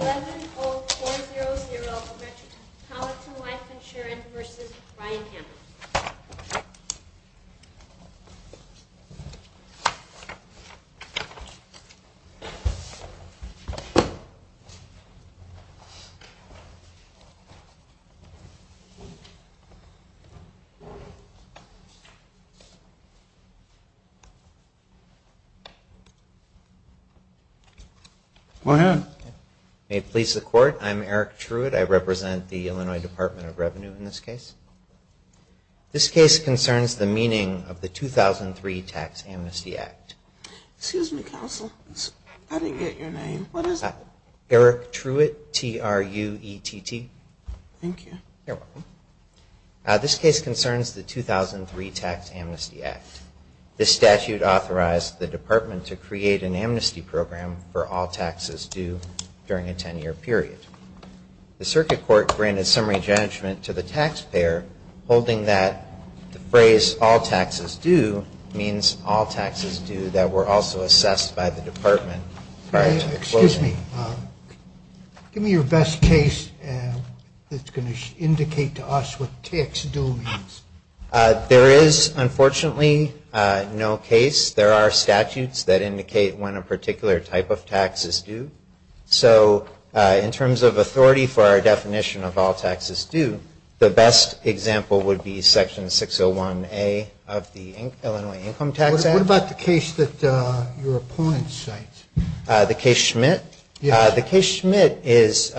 11-0-4-0-0 Richard Colleton Life Insurance v. Ryan Hamer Go ahead. May it please the Court. I'm Eric Truitt. I represent the Illinois Department of Revenue in this case. This case concerns the meaning of the 2003 Tax Amnesty Act. Excuse me, Counsel. I didn't get your name. What is it? Eric Truitt, T-R-U-E-T-T. Thank you. You're welcome. This case concerns the 2003 Tax Amnesty Act. This statute authorized the Department to create an amnesty program for all taxes due during a 10-year period. The taxpayer holding that phrase, all taxes due, means all taxes due that were also assessed by the Department prior to closing. Excuse me. Give me your best case that's going to indicate to us what tax due means. There is, unfortunately, no case. There are statutes that indicate when a particular type of tax is due. So in terms of authority for our definition of all taxes due, the best example would be Section 601A of the Illinois Income Tax Act. What about the case that your opponent cites? The case Schmidt? Yes. The case Schmidt is,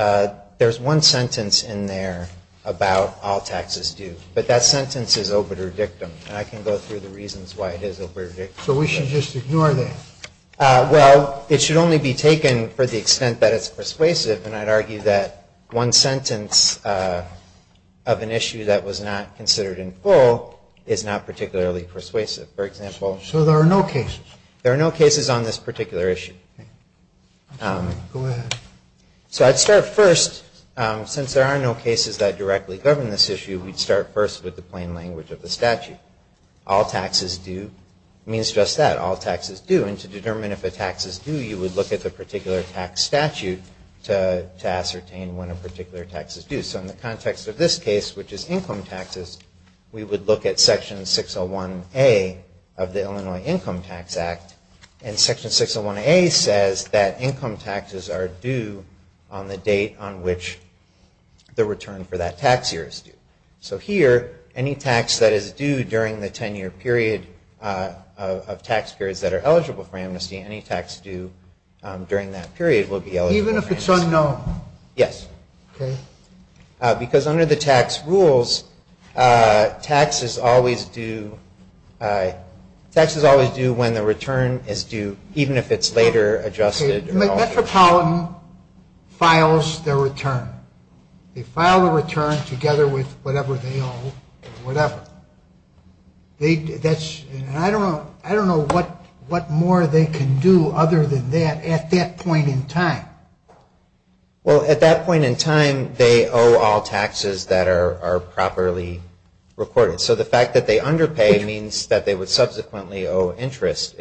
there's one sentence in there about all taxes due, but that sentence is obitur dictum, and I can go through the reasons why it is obitur dictum. So we should just ignore that? Well, it should only be taken for the extent that it's persuasive, and I'd argue that one sentence of an issue that was not considered in full is not particularly persuasive. For example, So there are no cases? There are no cases on this particular issue. Go ahead. So I'd start first, since there are no cases that directly govern this issue, we'd start first with the plain language of the statute. All taxes due means just that, all taxes due, and to determine if a tax is due, you would look at the particular tax statute to ascertain when a particular tax is due. So in the context of this case, which is income taxes, we would look at Section 601A of the Illinois Income Tax Act, and Section 601A says that income taxes are due on the date on which the return for that tax year is due. So here, any tax that is due during the 10-year period of tax periods that are eligible for amnesty, any tax due during that period will be eligible for amnesty. Even if it's unknown? Yes. Okay. Because under the tax rules, taxes always do when the return is due, even if it's later adjusted or altered. Metropolitan files their return. They file the return together with whatever they can do other than that at that point in time. Well, at that point in time, they owe all taxes that are properly recorded. So the fact that they underpay means that they would subsequently owe interest.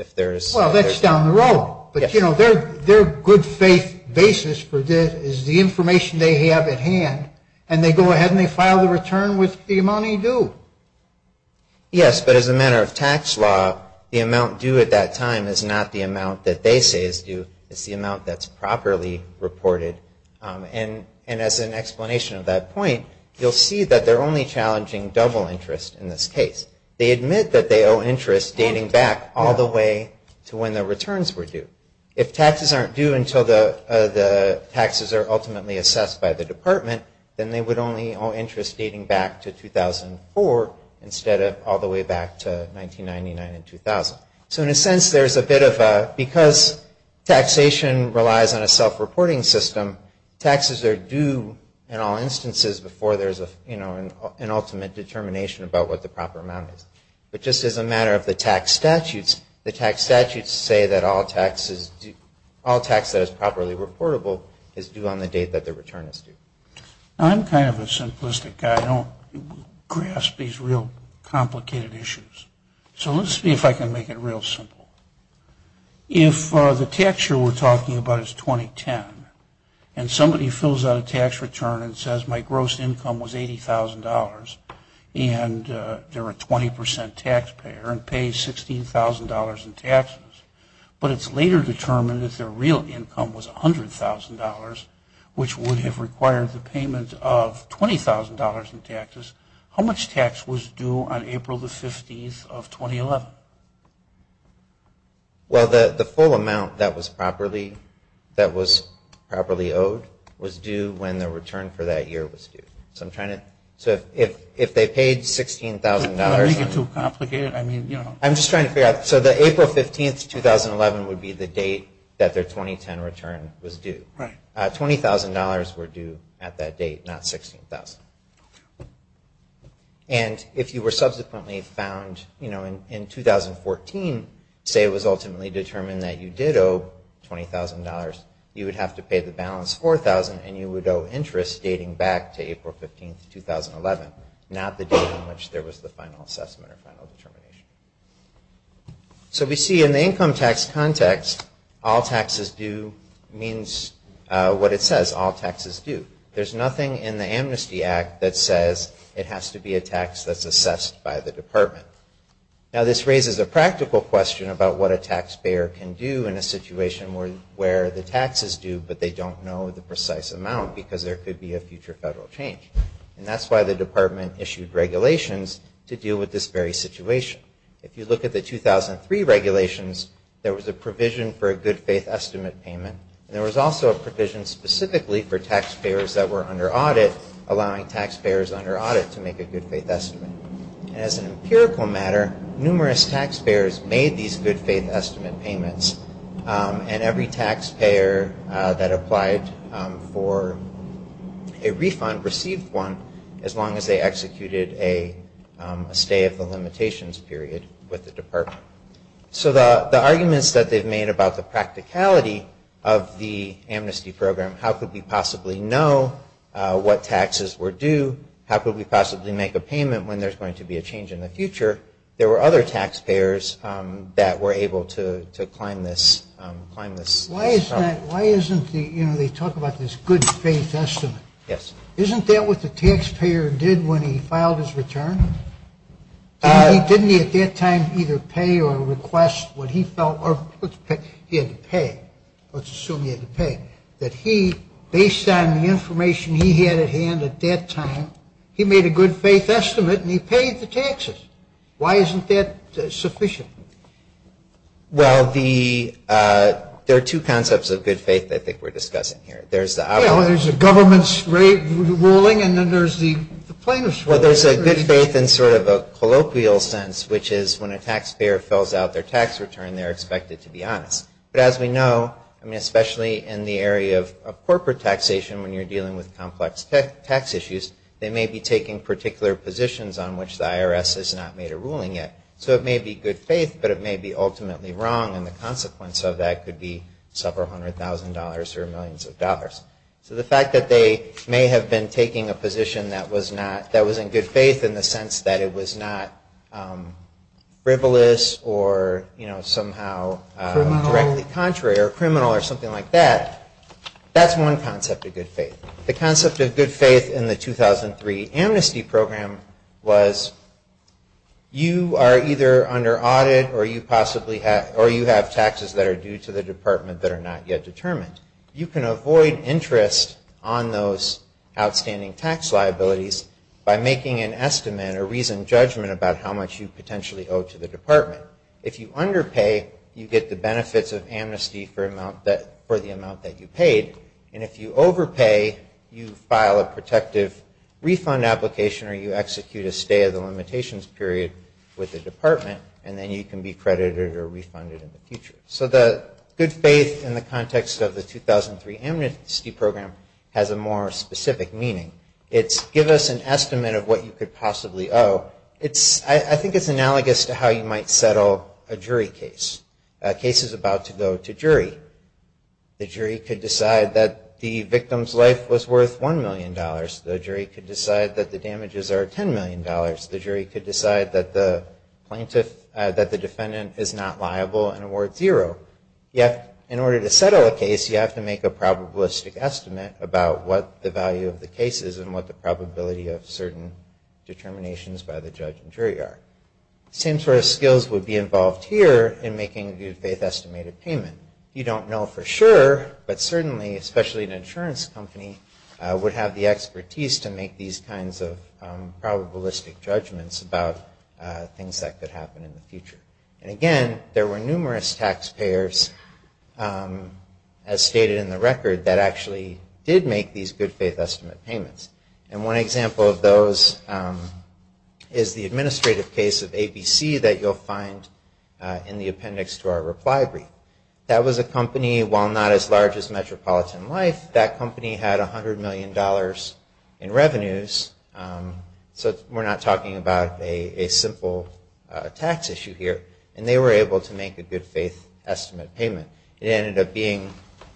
Well, that's down the road. But their good faith basis for this is the information they have at hand, and they go ahead and they file the return with the amount they do. Yes, but as a matter of tax law, the amount due at that time is not the amount that they say is due. It's the amount that's properly reported. And as an explanation of that point, you'll see that they're only challenging double interest in this case. They admit that they owe interest dating back all the way to when the returns were due. If taxes aren't due until the taxes are ultimately assessed by the department, then they would only owe interest dating back to 2004 instead of all the way back to 1999 and 2000. So in a sense, there's a bit of a, because taxation relies on a self-reporting system, taxes are due in all instances before there's an ultimate determination about what the proper amount is. But just as a matter of the tax statutes, the tax statutes say that all taxes, all taxes are due on the date that the return is due. I'm kind of a simplistic guy. I don't grasp these real complicated issues. So let's see if I can make it real simple. If the tax year we're talking about is 2010, and somebody fills out a tax return and says my gross income was $80,000 and they're a 20% taxpayer and pay $16,000 in taxes, but it's later determined that their real income was $100,000, which would have required the payment of $20,000 in taxes, how much tax was due on April the 50th of 2011? Well, the full amount that was properly owed was due when the return for that year was due. So if they paid $16,000. Did I make it too complicated? I'm just trying to figure out. So the April 15th, 2011 would be the date that their 2010 return was due. $20,000 were due at that date, not $16,000. And if you were subsequently found in 2014, say it was ultimately determined that you did owe $20,000, you would have to pay the balance $4,000 and you would owe interest dating back to April 15th, 2011, not the date on which there was the final assessment or final determination. So we see in the income tax context, all taxes due means what it says, all taxes due. There's nothing in the Amnesty Act that says it has to be a tax that's assessed by the department. Now this raises a practical question about what a taxpayer can do in a situation where the taxes due but they don't know the precise amount because there could be a future federal change. And that's why the department issued regulations to deal with this very situation. If you look at the 2003 regulations, there was a provision for a good faith estimate payment and there was also a provision specifically for taxpayers that were under audit allowing taxpayers under audit to make a good faith estimate. And as an empirical matter, numerous taxpayers made these good faith estimate payments and every taxpayer that applied for a refund received one as long as they executed a stay of the limitations period with the department. So the arguments that they've made about the practicality of the amnesty program, how could we possibly know what taxes were due, how could we possibly make a payment when there's going to be a change in the future, there were other ways to claim this. Why isn't the, you know, they talk about this good faith estimate. Isn't that what the taxpayer did when he filed his return? Didn't he at that time either pay or request what he felt, or he had to pay, let's assume he had to pay, that he, based on the information he had at hand at that time, he made a good faith estimate and he paid the taxes. Why isn't that sufficient? Well, the, there are two concepts of good faith that I think we're discussing here. There's the There's the government's ruling and then there's the plaintiff's ruling. Well, there's a good faith in sort of a colloquial sense, which is when a taxpayer fills out their tax return, they're expected to be honest. But as we know, I mean, especially in the area of corporate taxation, when you're dealing with complex tax issues, they may be taking particular positions on which the IRS has not made a ruling yet. So it may be good faith, but it may be ultimately wrong. And the consequence of that could be several hundred thousand dollars or millions of dollars. So the fact that they may have been taking a position that was not, that was in good faith in the sense that it was not frivolous or, you know, somehow directly contrary or criminal or something like that, that's one concept of good faith. The concept of good faith in the free amnesty program was you are either under audit or you possibly have, or you have taxes that are due to the department that are not yet determined. You can avoid interest on those outstanding tax liabilities by making an estimate or reasoned judgment about how much you potentially owe to the department. If you underpay, you get the benefits of amnesty for the amount that you paid. And if you overpay, you file a protective refund application or you execute a stay of the limitations period with the department, and then you can be credited or refunded in the future. So the good faith in the context of the 2003 amnesty program has a more specific meaning. It's give us an estimate of what you could possibly owe. I think it's analogous to how you might settle a jury case. A case is about to go to jury. The jury could decide that the victim's life was worth one million dollars. The jury could decide that the damages are ten million dollars. The jury could decide that the defendant is not liable and award zero. Yet in order to settle a case, you have to make a probabilistic estimate about what the value of the case is and what the probability of certain determinations by the judge and jury are. Same sort of skills would be involved here in making a good faith estimated payment. You don't know for sure, but certainly, especially an insurance company, would have the expertise to make these kinds of probabilistic judgments about things that could happen in the future. And again, there were numerous taxpayers, as stated in the record, that actually did make these good faith estimate payments. And one example of those is the Star Reply brief. That was a company, while not as large as Metropolitan Life, that company had a hundred million dollars in revenues. So we're not talking about a simple tax issue here. And they were able to make a good faith estimate payment. It ended up being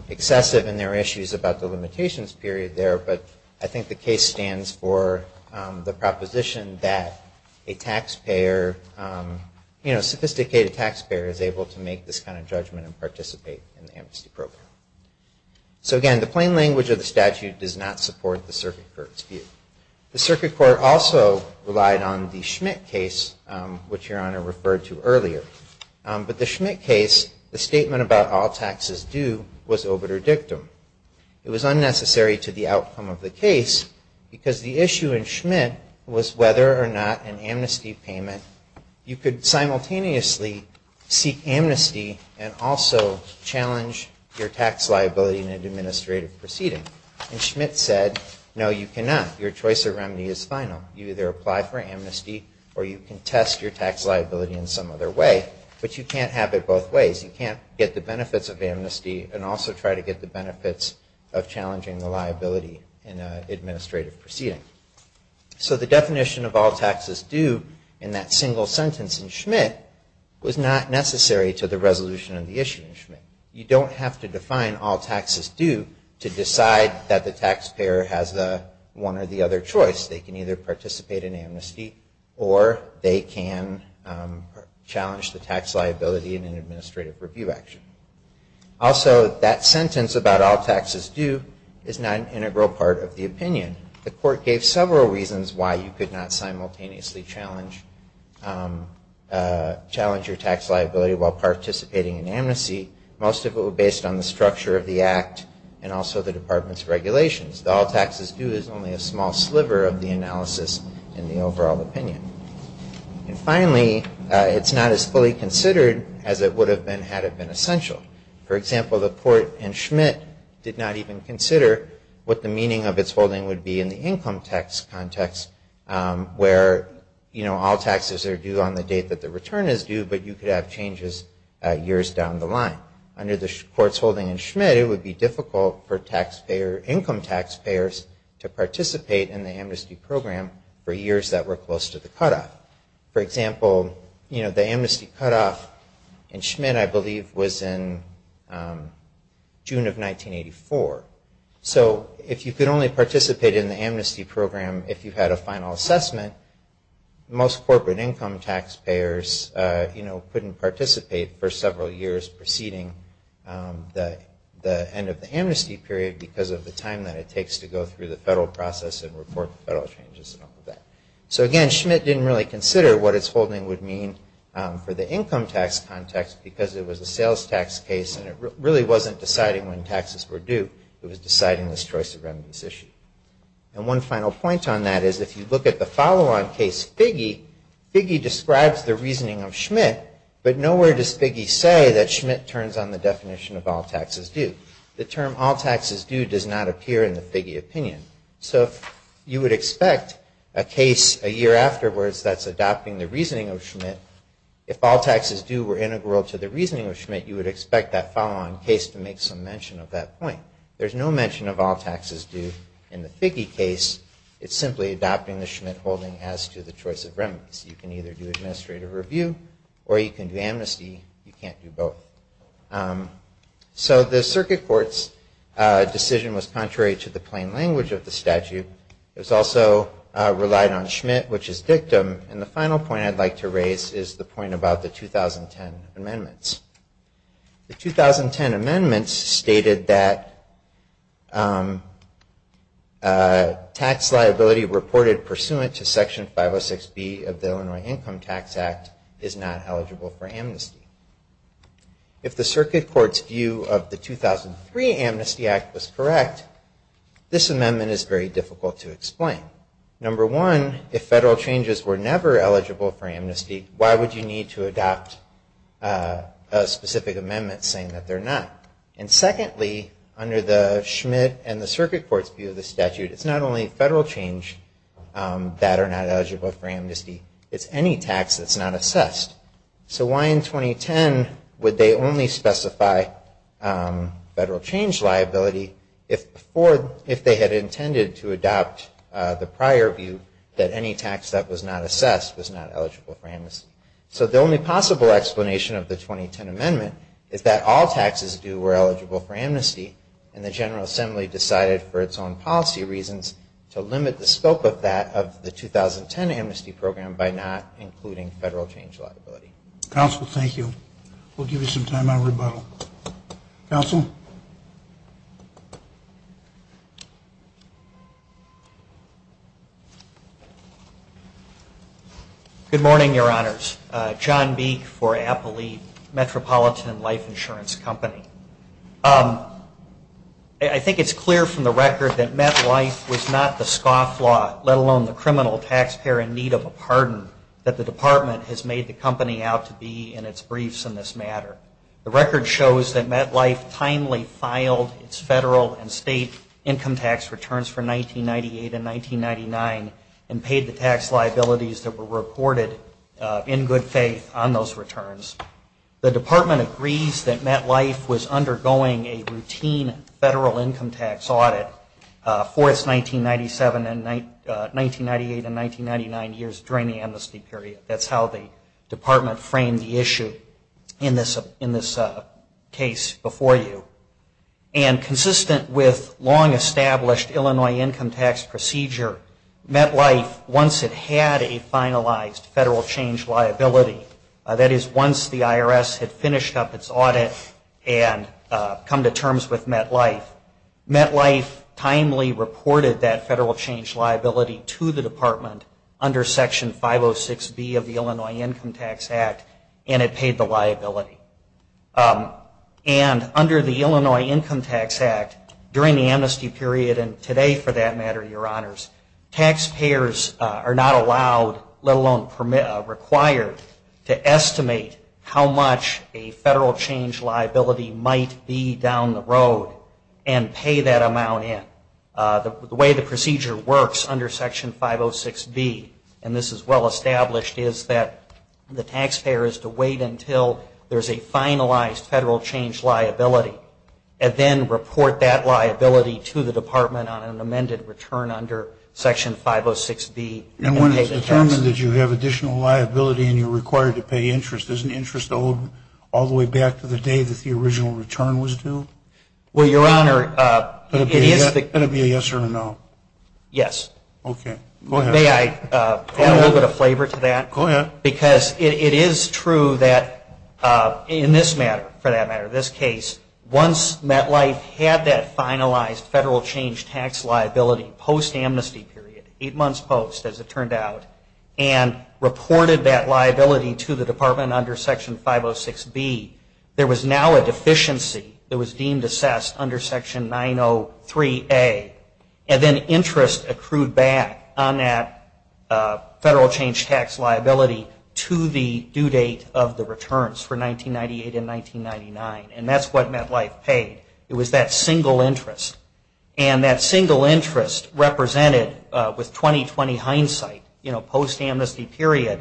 excessive and there were issues about the limitations period there, but I think the case stands for the fact that they were able to make this kind of judgment and participate in the amnesty program. So again, the plain language of the statute does not support the circuit court's view. The circuit court also relied on the Schmitt case, which Your Honor referred to earlier. But the Schmitt case, the statement about all taxes due was obiter dictum. It was unnecessary to the outcome of the case, because the issue in Schmitt was whether or not an amnesty payment, you could simultaneously seek amnesty and also challenge your tax liability in an administrative proceeding. And Schmitt said, no, you cannot. Your choice of remedy is final. You either apply for amnesty or you can test your tax liability in some other way. But you can't have it both ways in an administrative proceeding. So the definition of all taxes due in that single sentence in Schmitt was not necessary to the resolution of the issue in Schmitt. You don't have to define all taxes due to decide that the taxpayer has one or the other choice. They can either participate in amnesty or they can challenge the tax liability in an administrative review action. Also, that sentence about all taxes due is not an integral part of the opinion. The court gave several reasons why you could not simultaneously challenge your tax liability while participating in amnesty. Most of it was based on the structure of the act and also the department's regulations. All taxes due is only a small sliver of the analysis in the overall opinion. And finally, it's not as fully considered as it would have been had it been essential. For example, the court in Schmitt did not even consider what the meaning of its holding would be in the income tax context where all taxes are due on the date that the return is due, but you could have changes years down the line. Under the court's holding in Schmitt, it would be difficult for you to participate in the amnesty cutoff. For example, the amnesty cutoff in Schmitt, I believe, was in June of 1984. So if you could only participate in the amnesty program if you had a final assessment, most corporate income taxpayers couldn't participate for several years preceding the end of the amnesty period because of the time that it takes to go through the federal process and report the federal changes and all of that. So again, Schmitt didn't really consider what its holding would mean for the income tax context because it was a sales tax case and it really wasn't deciding when taxes were due. It was deciding this choice of remittance issue. And one final point on that is if you look at the follow-on case Figge, Figge describes the reasoning of Schmitt, but nowhere does Figge say that Schmitt turns on the definition of all taxes due. The term all taxes due does not appear in the Figge opinion. So if you would expect a case a year afterwards that's adopting the reasoning of Schmitt, if all taxes due were integral to the reasoning of Schmitt, you would expect that follow-on case to make some mention of that point. There's no mention of all taxes due in the Figge case. It's simply adopting the Schmitt holding as to the choice of review or you can do amnesty, you can't do both. So the circuit court's decision was contrary to the plain language of the statute. It was also relied on Schmitt, which is dictum. And the final point I'd like to raise is the point about the 2010 amendments. The 2010 amendments stated that tax is not eligible for amnesty. If the circuit court's view of the 2003 amnesty act was correct, this amendment is very difficult to explain. Number one, if federal changes were never eligible for amnesty, why would you need to adopt a specific amendment saying that they're not? And secondly, under the Schmitt and the circuit court's view of the statute, it's not only federal change that are not eligible for amnesty, it's any tax that's not assessed. So why in 2010 would they only specify federal change liability if they had intended to adopt the prior view that any tax that was not assessed was not eligible for amnesty? So the only possible explanation of the 2010 amendment is that all taxes due were eligible for amnesty and the General Assembly decided for its own policy reasons to limit the scope of that of the 2010 amnesty program by not including federal change liability. Counsel, thank you. We'll give you some time out of rebuttal. Counsel? Good morning, Your Honors. John Beek for Appalachian Metropolitan Life Service. The record shows that MetLife was not the scofflaw, let alone the criminal taxpayer in need of a pardon, that the Department has made the company out to be in its briefs in this matter. The record shows that MetLife timely filed its federal and state income tax returns for 1998 and 1999 and paid the tax liabilities that were reported in good faith on those returns. The record shows that MetLife timely filed its federal and state income tax returns for its 1998 and 1999 years during the amnesty period. That's how the Department framed the issue in this case before you. And consistent with long established Illinois income tax procedure, MetLife, once it had a finalized federal change liability, that is once the IRS had finished up its audit and come to terms with MetLife, MetLife timely reported that federal change liability to the Department under Section 506B of the Illinois Income Tax Act and it paid the liability. And under the Illinois Income Tax Act, during the amnesty period and today for that matter, Your Honors, taxpayers are not allowed, let alone required, to estimate how much a federal change liability might be down the road and pay that amount in. The way the procedure works under Section 506B, and this is well established, is that the taxpayer is to wait until there's a finalized federal change liability and then report that liability to the Department on an amended return under Section 506B. And when it's determined that you have additional liability and you're waiting until the original return was due? Well, Your Honor, it is the Is that a yes or a no? Yes. Okay. Go ahead. May I add a little bit of flavor to that? Go ahead. Because it is true that in this matter, for that matter, this case, once MetLife had that finalized federal change tax liability post amnesty period, eight months post as it turned out, and reported that liability to the Department under Section 506B, there was now a deficiency that was deemed assessed under Section 903A, and then interest accrued back on that federal change tax liability to the due date of the returns for 1998 and 1999. And that's what MetLife paid. It was that single interest. And that single interest represented, with 20-20 hindsight, you know, post amnesty period,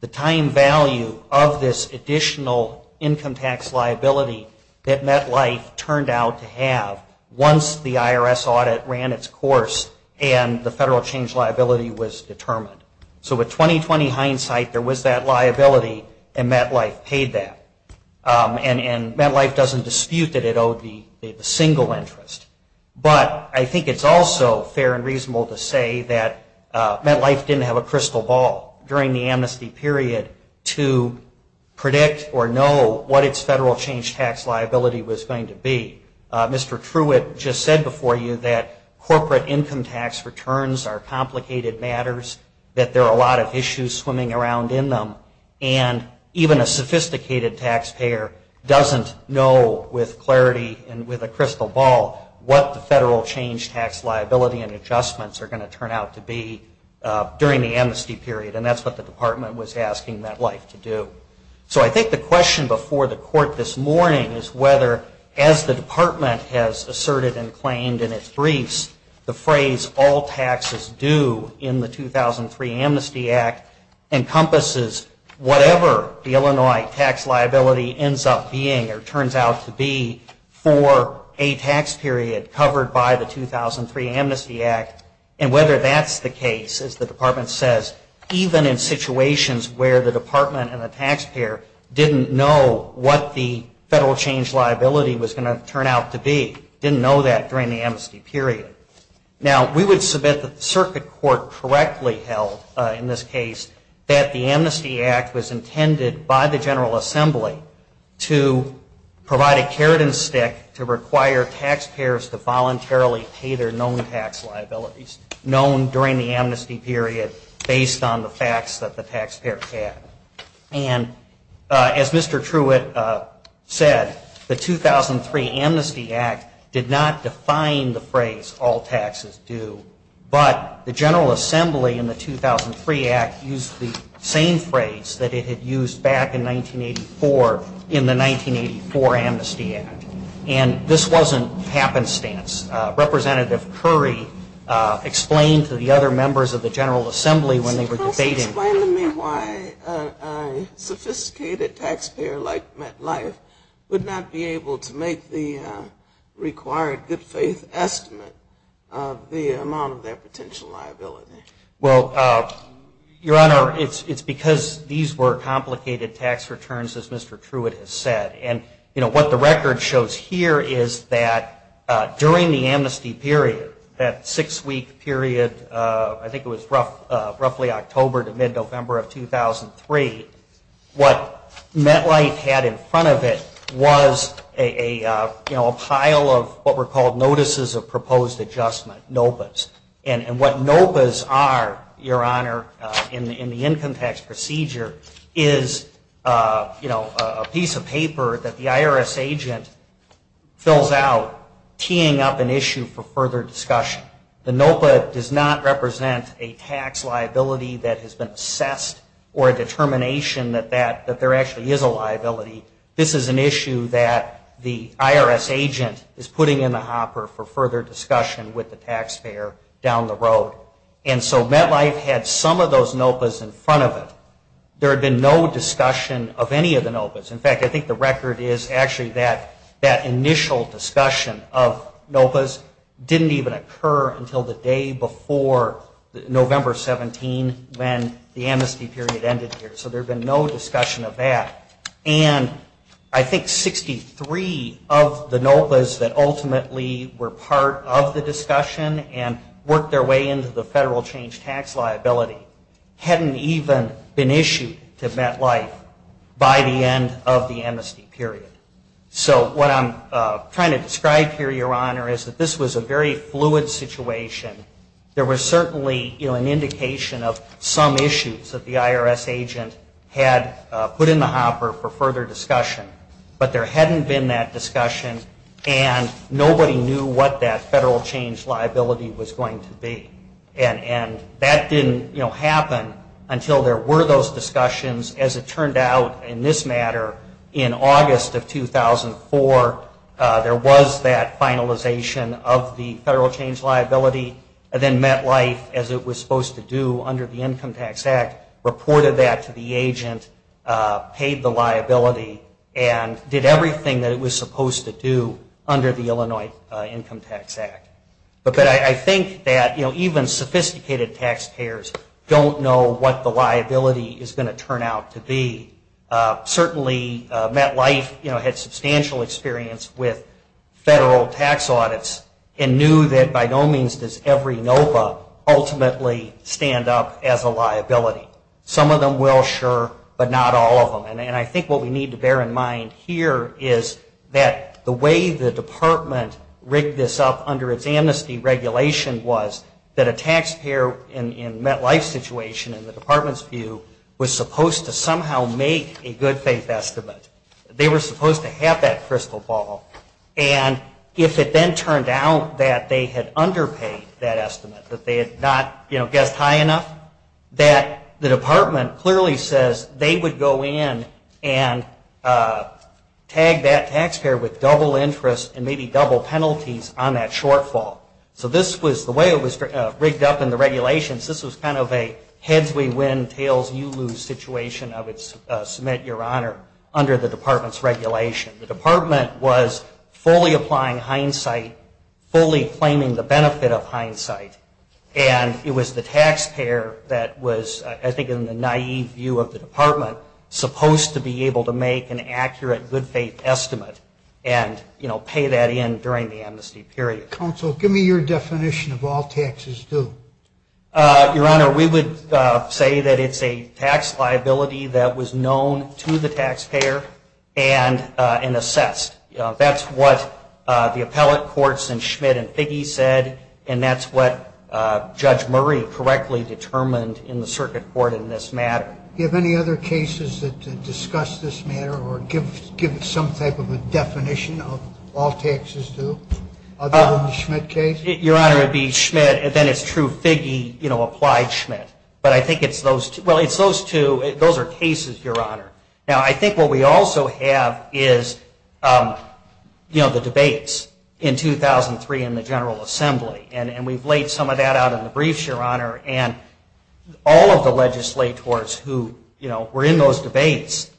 the time value of this additional income tax liability that MetLife turned out to have once the IRS audit ran its course and the federal change liability was determined. So with 20-20 hindsight, there was that liability, and MetLife paid that. And MetLife doesn't dispute that it owed the single interest. But I think it's also fair and reasonable to say that MetLife didn't have a way to predict or know what its federal change tax liability was going to be. Mr. Truitt just said before you that corporate income tax returns are complicated matters, that there are a lot of issues swimming around in them, and even a sophisticated taxpayer doesn't know with clarity and with a crystal ball what the federal change tax liability and adjustments are going to turn out to be during the amnesty period. And that's what the department was asking MetLife to do. So I think the question before the court this morning is whether, as the department has asserted and claimed in its briefs, the phrase all taxes due in the 2003 Amnesty Act encompasses whatever the Illinois tax liability ends up being or turns out to be for a tax period covered by the 2003 Amnesty Act, and whether that's the case, as the department says, even in situations where the department and the taxpayer didn't know what the federal change liability was going to turn out to be, didn't know that during the amnesty period. Now, we would submit that the circuit court correctly held in this case that the Amnesty Act was intended by the General Assembly to voluntarily pay their known tax liabilities, known during the amnesty period based on the facts that the taxpayer had. And as Mr. Truitt said, the 2003 Amnesty Act did not define the phrase all taxes due, but the General Assembly in the 2003 Act used the same phrase that it had used back in 1984 in the 1984 Amnesty Act. And this wasn't happenstance. It was not happenstance. Representative Curry explained to the other members of the General Assembly when they were debating. Can you explain to me why a sophisticated taxpayer like MetLife would not be able to make the required good faith estimate of the amount of their potential liability? Well, Your Honor, it's because these were complicated tax returns, as Mr. Truitt said. During the amnesty period, that six-week period, I think it was roughly October to mid-November of 2003, what MetLife had in front of it was a pile of what were called notices of proposed adjustment, NOPAs. And what NOPAs are, Your Honor, in the income tax procedure is a piece of paper that the IRS has put in the hopper for further discussion. The NOPA does not represent a tax liability that has been assessed or a determination that there actually is a liability. This is an issue that the IRS agent is putting in the hopper for further discussion with the taxpayer down the road. And so MetLife had some of those NOPAs in front of it. There had been no discussion of any of the NOPAs. In fact, I think the record is actually that that initial discussion of NOPAs didn't even occur until the day before November 17 when the amnesty period ended here. So there had been no discussion of that. And I think 63 of the NOPAs that ultimately were part of the discussion and worked their way into the federal change tax liability hadn't even been issued to MetLife by the end of the amnesty period. So what I'm trying to describe here, Your Honor, is that this was a very fluid situation. There was certainly an indication of some issues that the IRS agent had put in the hopper for further discussion. But there hadn't been that discussion and nobody knew what that federal change liability was going to be. And that didn't happen until there were those reports that came out in this matter in August of 2004. There was that finalization of the federal change liability. And then MetLife, as it was supposed to do under the Income Tax Act, reported that to the agent, paid the liability, and did everything that it was supposed to do under the Illinois Income Tax Act. But I think that, you know, even sophisticated taxpayers don't know what the liability is going to turn out to be. Certainly MetLife, you know, had substantial experience with federal tax audits and knew that by no means does every NOPA ultimately stand up as a liability. Some of them will, sure, but not all of them. And I think what we need to bear in mind here is that the way the department rigged this up under its amnesty regulation was that a taxpayer in MetLife's situation, in the department's view, was supposed to somehow make a good faith estimate. They were supposed to have that crystal ball. And if it then turned out that they had underpaid that estimate, that they had not, you know, guessed high enough, that the department clearly says they would go in and tag that taxpayer with double interest and maybe double penalties on that shortfall. So this was the way it was rigged up in the regulations. This was kind of a heads we win, tails you lose situation of it's submit your honor under the department's regulation. The department was fully applying hindsight, fully claiming the benefit of hindsight, and it was the taxpayer that was, I think in the naive view of the department, supposed to be paying the amnesty, period. Counsel, give me your definition of all taxes due. Your honor, we would say that it's a tax liability that was known to the taxpayer and assessed. That's what the appellate courts in Schmidt and Figge said, and that's what Judge Murray correctly determined in the circuit court in this matter. Do you have any other cases that discuss this matter or give some type of a definition of all taxes due other than the Schmitt case? Your honor, it would be Schmitt, and then it's true Figge applied Schmitt, but I think it's those two. Those are cases, your honor. Now, I think what we also have is, you know, the debates in 2003 in the General Assembly, and we've laid some of that out in the briefs, your honor, and all of the legislators who, you know, were in those debates.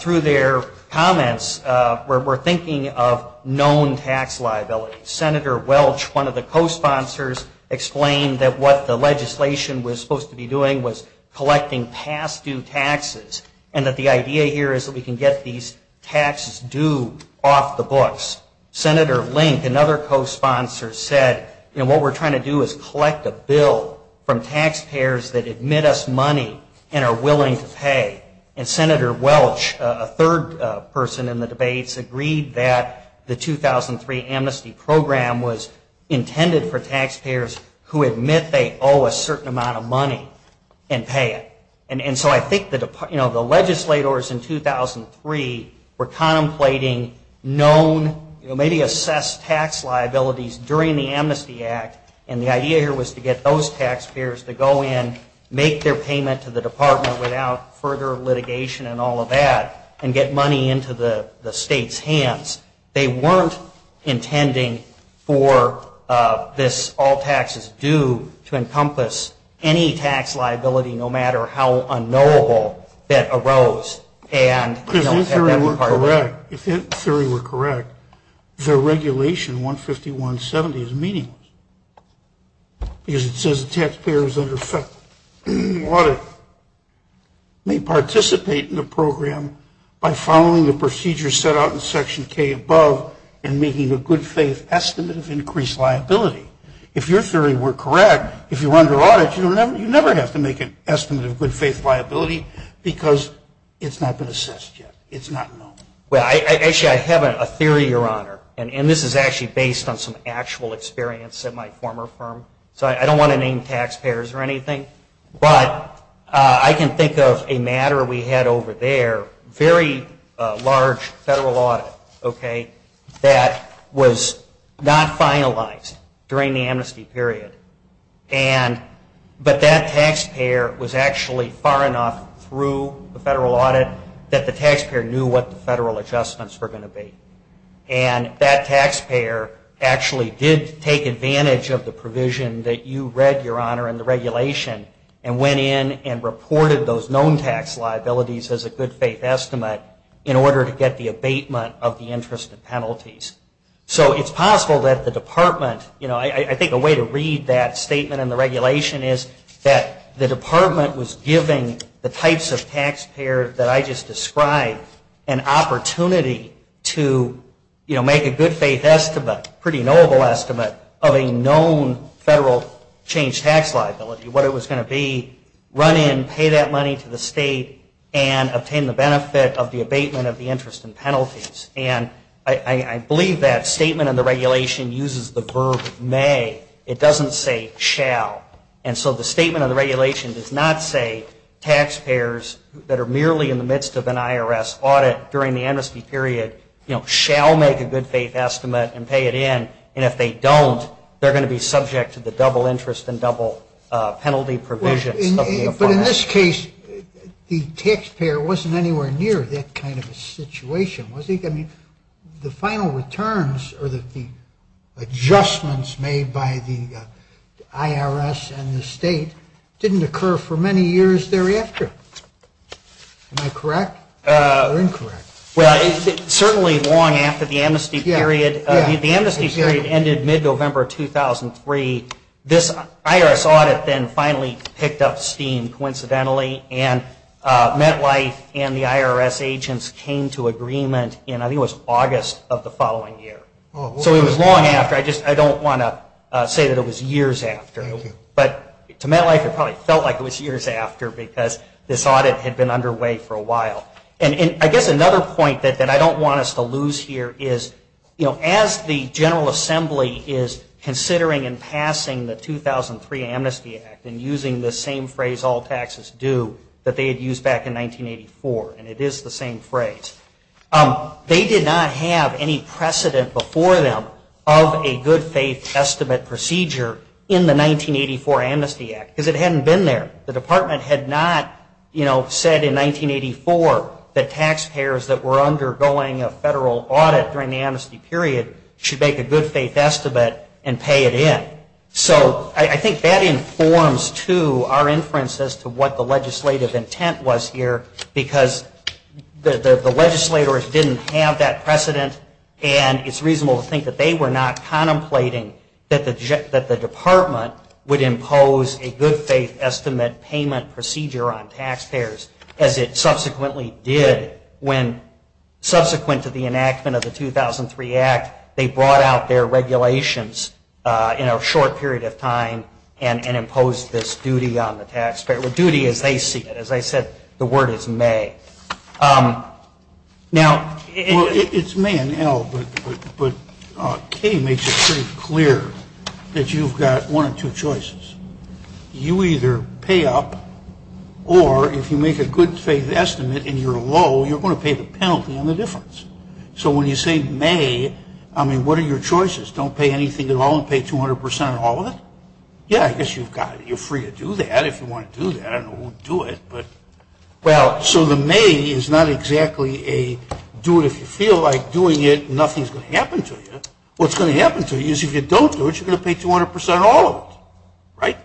Through their comments, we're thinking of known tax liability. Senator Welch, one of the co-sponsors, explained that what the legislation was supposed to be doing was collecting past due taxes, and that the idea here is that we can get these taxes due off the books. Senator Link, another co-sponsor, said, you know, what we're trying to do is collect a bill from taxpayers that admit us money and are willing to pay. And Senator Welch, a third person in the debates, agreed that the 2003 amnesty program was intended for taxpayers who admit they owe a certain amount of money and pay it. And so I think the legislators in 2003 were contemplating known, maybe reassess tax liabilities during the amnesty act, and the idea here was to get those taxpayers to go in, make their payment to the department without further litigation and all of that, and get money into the state's hands. They weren't intending for this all taxes due to encompass any tax liability, no matter how unknowable that arose. If this theory were correct, the regulation 15170 is meaningless, because it says the taxpayers under audit may participate in the program by following the procedures set out in section K above and making a good faith estimate of increased liability. If your theory were correct, if you were under audit, you would never have to make an estimate of good faith liability, because it's not been assessed yet. It's not known. I don't want to name taxpayers or anything, but I can think of a matter we had over there, very large federal audit, okay, that was not finalized during the amnesty period. But that taxpayer was actually far enough through the federal audit that the taxpayer knew what the federal adjustments were going to be. And that taxpayer actually did take advantage of the provision that you read, your honor, in the regulation and went in and reported those known tax liabilities as a good faith estimate in order to get the abatement of the interest and penalties. So it's possible that the department, you know, I think a way to read that statement in the regulation is that the department was giving the types of taxpayers that I just described an opportunity to make a good faith estimate, pretty noble estimate of a known federal change tax liability, what it was going to be, run in, pay that money to the state and obtain the benefit of the abatement of the interest and penalties. And I believe that statement in the regulation uses the verb may. It doesn't say shall. And so the statement of the regulation does not say taxpayers that are merely in the midst of an IRS audit during the amnesty period, you know, shall make a good faith estimate and pay it in. And if they don't, they're going to be subject to the double interest and double penalty provisions. But in this case, the taxpayer wasn't anywhere near that kind of a situation, was he? I mean, the final returns or the adjustments made by the IRS and the state didn't occur for many years thereafter. Am I correct or incorrect? Well, certainly long after the amnesty period. The amnesty period ended mid-November 2003. This IRS audit then finally picked up steam coincidentally and MetLife and the IRS agents came to agreement in I think it was August of the following year. So it was long after. I don't want to say that it was years after. But to MetLife it probably felt like it was years after because this audit had been you know, as the General Assembly is considering and passing the 2003 Amnesty Act and using the same phrase, all taxes due, that they had used back in 1984. And it is the same phrase. They did not have any precedent before them of a good faith estimate procedure in the 1984 Amnesty Act because it hadn't been there. The Department had not, you know, said in the 1980 period should make a good faith estimate and pay it in. So I think that informs too our inference as to what the legislative intent was here because the legislators didn't have that precedent and it's reasonable to think that they were not contemplating that the Department would impose a good faith estimate payment procedure on taxpayers as it was in the 1984 Amnesty Act. They brought out their regulations in a short period of time and imposed this duty on the taxpayer. The duty as they see it. As I said, the word is may. Now it's may and L, but K makes it pretty clear that you've got one of two choices. You either pay up or if you make a good faith estimate and you're low, you're going to pay the penalty on the difference. So when you say may, I mean, what are your choices? Don't pay anything at all and pay 200% on all of it? Yeah, I guess you've got it. You're free to do that if you want to do that. I don't know who would do it, but well, so the may is not exactly a do it if you feel like doing it, nothing's going to happen to you. What's going to happen to you is if you don't do it, you're going to pay 200% on all of it. Right.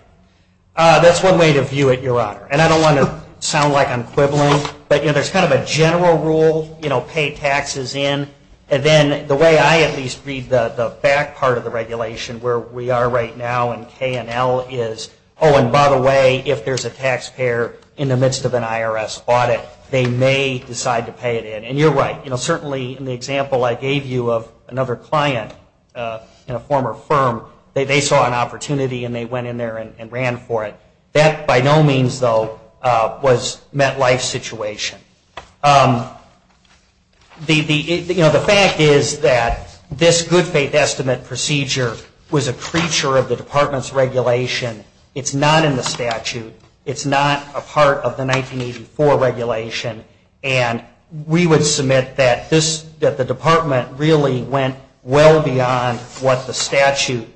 That's one way to view it, Your Honor, and I don't want to sound like I'm quibbling, but there's kind of a general rule, pay taxes in, and then the way I at least read the back part of the regulation where we are right now and K and L is, oh, and by the way, if there's a taxpayer in the midst of an IRS audit, they may decide to pay it in. And you're right. Certainly in the example I gave you of another client in a former firm, they saw an opportunity and they went in there and ran for it. That by no means, though, was MetLife's situation. The fact is that this good faith estimate procedure was a creature of the Department's regulation. It's not in the statute. It's not a part of the 1984 regulation, and we would submit that the Department really went well beyond what the statute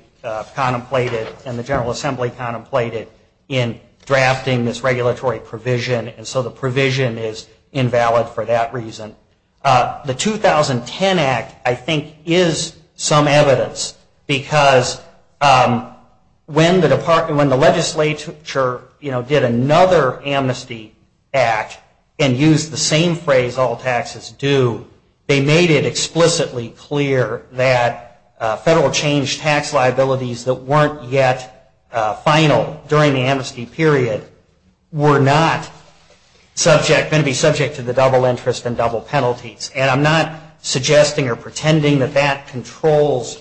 contemplated and the General Assembly contemplated in drafting this regulatory provision, and so the provision is invalid for that reason. The 2010 Act, I think, is some evidence because when the legislature did another amnesty act and used the same phrase, all taxes due, they made it explicitly clear that federal change tax liabilities that weren't yet final during the amnesty period were not going to be subject to the double interest and double penalties. And I'm not suggesting or pretending that that was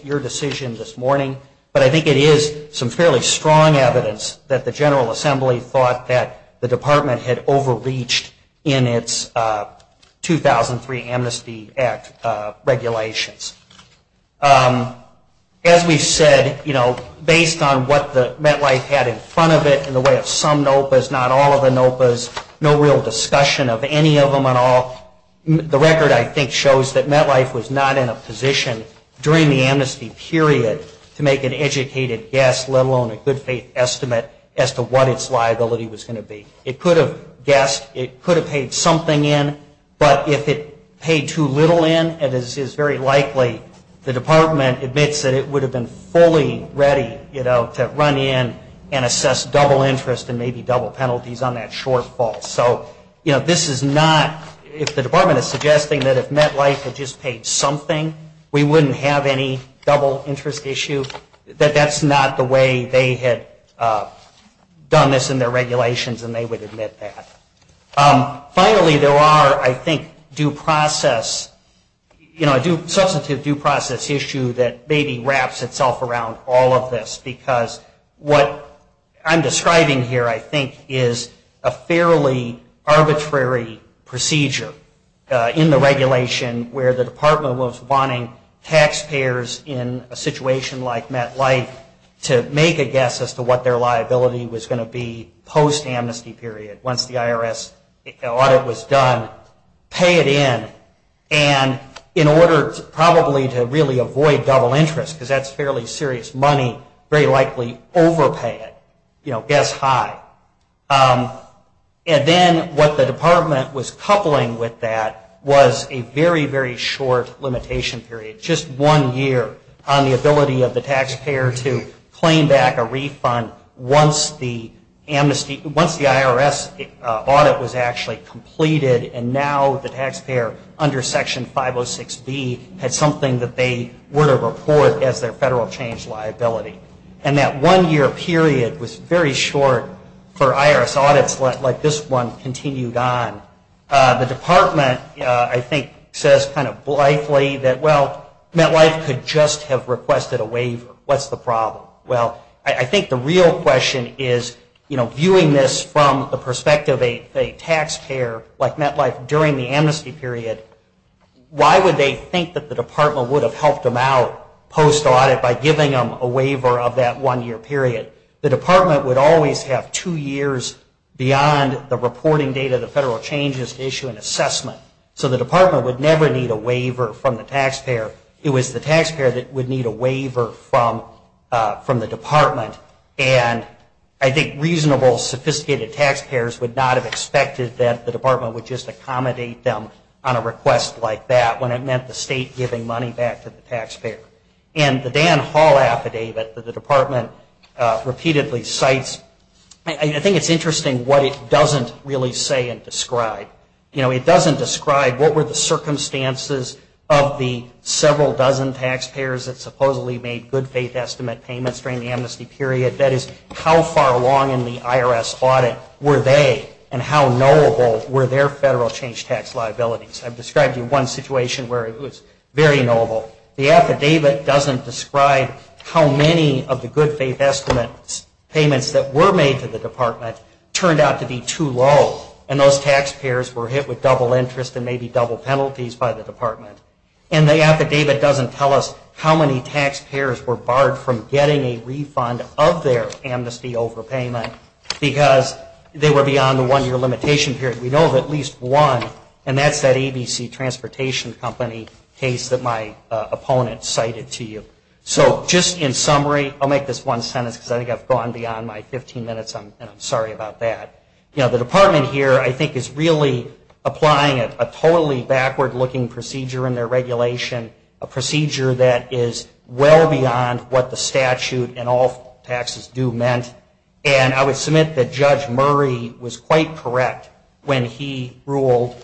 that the General Assembly thought that the Department had overreached in its 2003 Amnesty Act regulations. As we've said, based on what the MetLife had in front of it in the way of some NOPAs, not all of the NOPAs, no real discussion of any of them at all, the record, I think, shows that MetLife was not in a position during the amnesty period to make an educated guess, let alone a good faith estimate, as to what its liability was going to be. It could have guessed, it could have paid something in, but if it paid too little in, it is very likely the Department admits that it would have been fully ready to run in and assess double interest and maybe double penalties on that shortfall. So this is not, if the Department is suggesting that if MetLife had just paid something, we wouldn't have any double interest issue, that that's not the way they had done this in their regulations and they would admit that. Finally, there are, I think, substantive due process issue that maybe wraps itself around all of this, because what I'm describing here, I think, is a fairly arbitrary procedure in the regulation where the Department was wanting taxpayers in a situation like MetLife to make a guess as to what their liability was going to be post-amnesty period, once the IRS audit was done, pay it in, and in order probably to really avoid double interest, because that's fairly serious money, very likely overpay it. You know, guess high. And then what the Department was coupling with that was a very, very short limitation period, just one year on the ability of the taxpayer to claim back a refund once the amnesty, once the IRS audit was actually completed and now the taxpayer under Section 506B had something that they were to report as their federal change liability. And that one year period was very short for IRS audits like this one continued on. The Department, I think, says kind of blithely that, well, MetLife could just have requested a waiver. What's the problem? Well, I think the real question is, you know, viewing this from the perspective of a taxpayer like MetLife during the amnesty period, why would they think that the Department would have helped them out post-audit by giving them a waiver of that one year period? The Department would always have two years beyond the reporting date of the federal changes to issue an assessment. So the Department would never need a waiver from the taxpayer. It was the taxpayer that would need a waiver from the Department. And I think reasonable, sophisticated taxpayers would not have expected that the Department would just accommodate them on a request like that when it meant the state giving money back to the taxpayer. And the Dan Hall affidavit that the Department repeatedly cites, I think it's interesting what it doesn't really say and describe. You know, it doesn't describe what were the circumstances of the several dozen taxpayers that supposedly made good-faith estimate payments during the amnesty period. That is, how far along in the IRS audit were they and how knowable were their federal change tax liabilities? I've described to you one situation where it was very knowable. The affidavit doesn't describe how many of the good-faith estimates payments that were made to the Department turned out to be too low and those taxpayers were hit with double interest and maybe double penalties by the Department. And the affidavit doesn't tell us how many taxpayers were barred from getting a refund of their amnesty overpayment because they were beyond the one-year limitation period. We know of at least one, and that's that ABC Transportation Company case that my opponent cited to you. So just in summary, I'll make this one sentence because I think I've gone beyond my 15 minutes and I'm sorry about that. You know, the Department here I think is really applying a totally backward-looking procedure in their regulation, a procedure that is well beyond what the statute and all taxes do meant. And I would submit that Judge Murray was quite correct when he ruled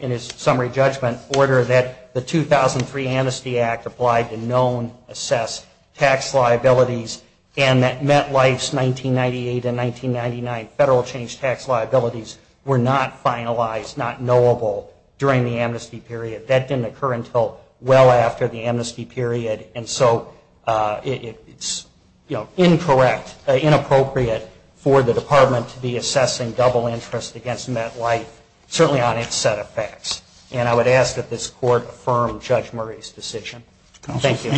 in his summary judgment order that the 2003 Amnesty Act applied to known assessed tax liabilities and that MetLife's 1998 and 1999 federal change tax liabilities were not finalized, not knowable during the amnesty period. That didn't occur until well after the amnesty period. And so it's, you know, incorrect, inappropriate for the Department to be assessing double interest against MetLife, certainly on its set of facts. And I would ask that this Court affirm Judge Murray's decision. Thank you.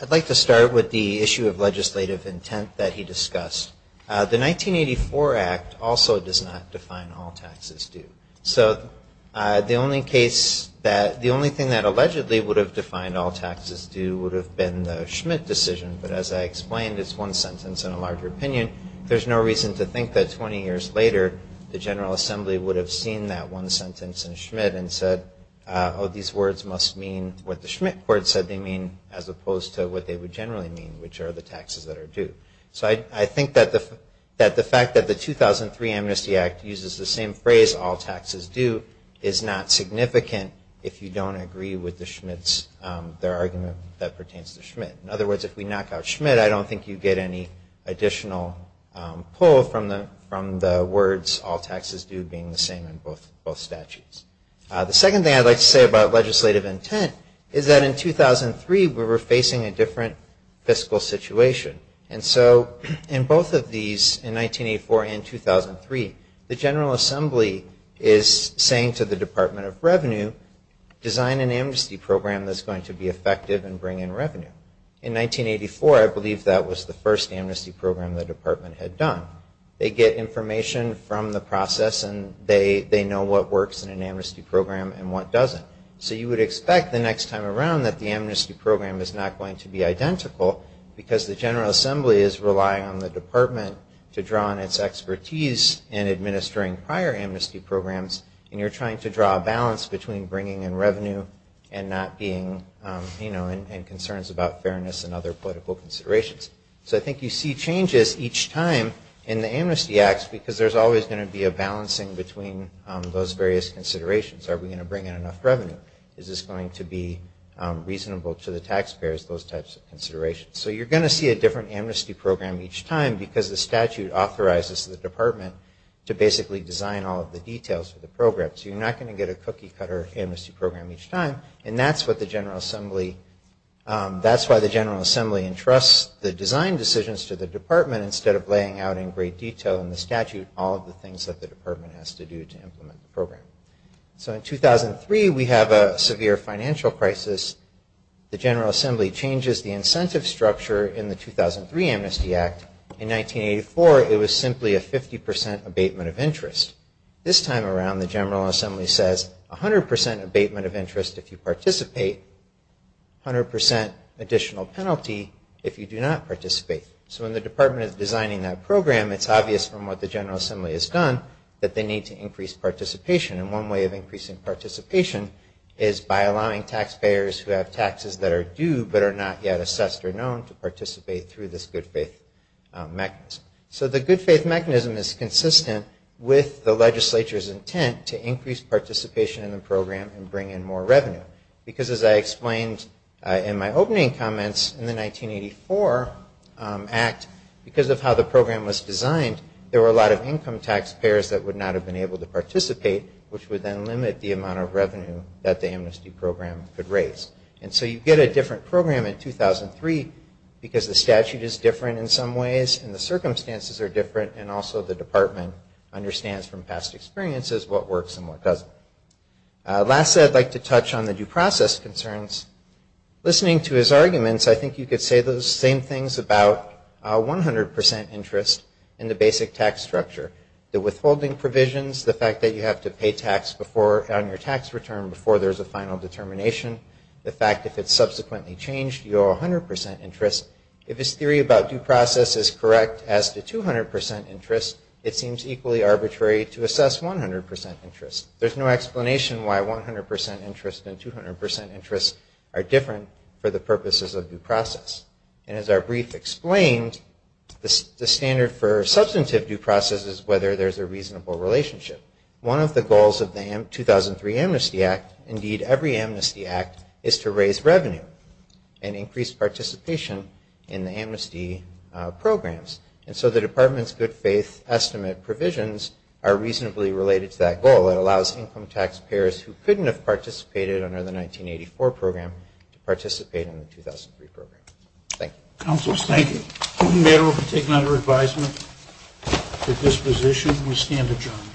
I'd like to start with the issue of legislative intent that he discussed. The 1984 Act also does not define all taxes due. So the only case that, the only thing that allegedly would have defined all taxes due would have been the Schmidt decision. But as I explained, it's one sentence in a larger opinion. There's no reason to think that 20 years later the General Assembly would have seen that one sentence in Schmidt and said, oh, these words must mean what the Schmidt Court said they mean that the fact that the 2003 Amnesty Act uses the same phrase, all taxes due, is not significant if you don't agree with the Schmidt's, their argument that pertains to Schmidt. In other words, if we knock out Schmidt, I don't think you get any additional pull from the words all taxes due being the same in both statutes. The second thing I'd like to say about legislative intent is that in 2003 we were facing a different fiscal situation. And so in both of these, in 1984 and 2003, the General Assembly is saying to the Department of Revenue, design an amnesty program that's going to be effective and bring in revenue. In 1984 I believe that was the first amnesty program the department had done. They get information from the process and they know what works in an amnesty program and what doesn't. So you would expect the next time around that the amnesty program is not going to be identical because the General Assembly is relying on the department to draw on its expertise in administering prior amnesty programs and you're trying to draw a balance between bringing in revenue and not being, you know, and concerns about fairness and other political considerations. So I think you see changes each time in the amnesty acts because there's always going to be a balancing between those various considerations. Are we going to bring in enough revenue? Is this going to be reasonable to the taxpayers? Those types of considerations. So you're going to see a different amnesty program each time because the statute authorizes the department to basically design all of the details for the program. So you're not going to get a cookie cutter amnesty program each time. And that's what the General Assembly, that's why the General Assembly entrusts the design decisions to the department instead of laying out in great detail in the statute all of the things that the department has to do to implement the program. So in 2003 we have a severe financial crisis. The General Assembly changes the incentive structure in the 2003 Amnesty Act. In 1984 it was simply a 50% abatement of interest. This time around the General Assembly says 100% abatement of interest if you participate, 100% additional penalty if you do not participate. So when the department is designing that program it's obvious from what the General Assembly has done that they need to increase participation. And one way of increasing participation is by allowing taxpayers who have taxes that are due but are not yet assessed or known to participate through this good faith mechanism. So the good faith mechanism is consistent with the legislature's intent to increase participation in the program and bring in more revenue. Because as I explained in my opening comments in the 1984 Act, because of how the program was designed there were a lot of income taxpayers that would not have been able to participate which would then limit the amount of revenue that the amnesty program could raise. And so you get a different program in 2003 because the statute is different in some ways and the circumstances are different and also the department understands from past experiences what works and what doesn't. Lastly I'd like to touch on the due process concerns. Listening to his arguments I think you could say those same things about 100% interest in the basic tax structure. The withholding provisions, the fact that you have to pay tax on your tax return before there's a final determination, the fact if it's subsequently changed you owe 100% interest. If his theory about due process is correct as to 200% interest it seems equally arbitrary to assess 100% interest. There's no explanation why 100% interest and 200% interest are different for the purposes of due process. And as our brief explained, the standard for substantive due process is whether there's a reasonable relationship. One of the goals of the 2003 Amnesty Act, indeed every amnesty act, is to raise revenue and increase participation in the amnesty programs. And so the department's good faith estimate provisions are reasonably related to that goal. It allows income taxpayers who couldn't have participated under the 1984 program to participate in the 2003 program. Thank you. Councilors, thank you. Madam Mayor, we'll take another advisement at this position. We stand adjourned.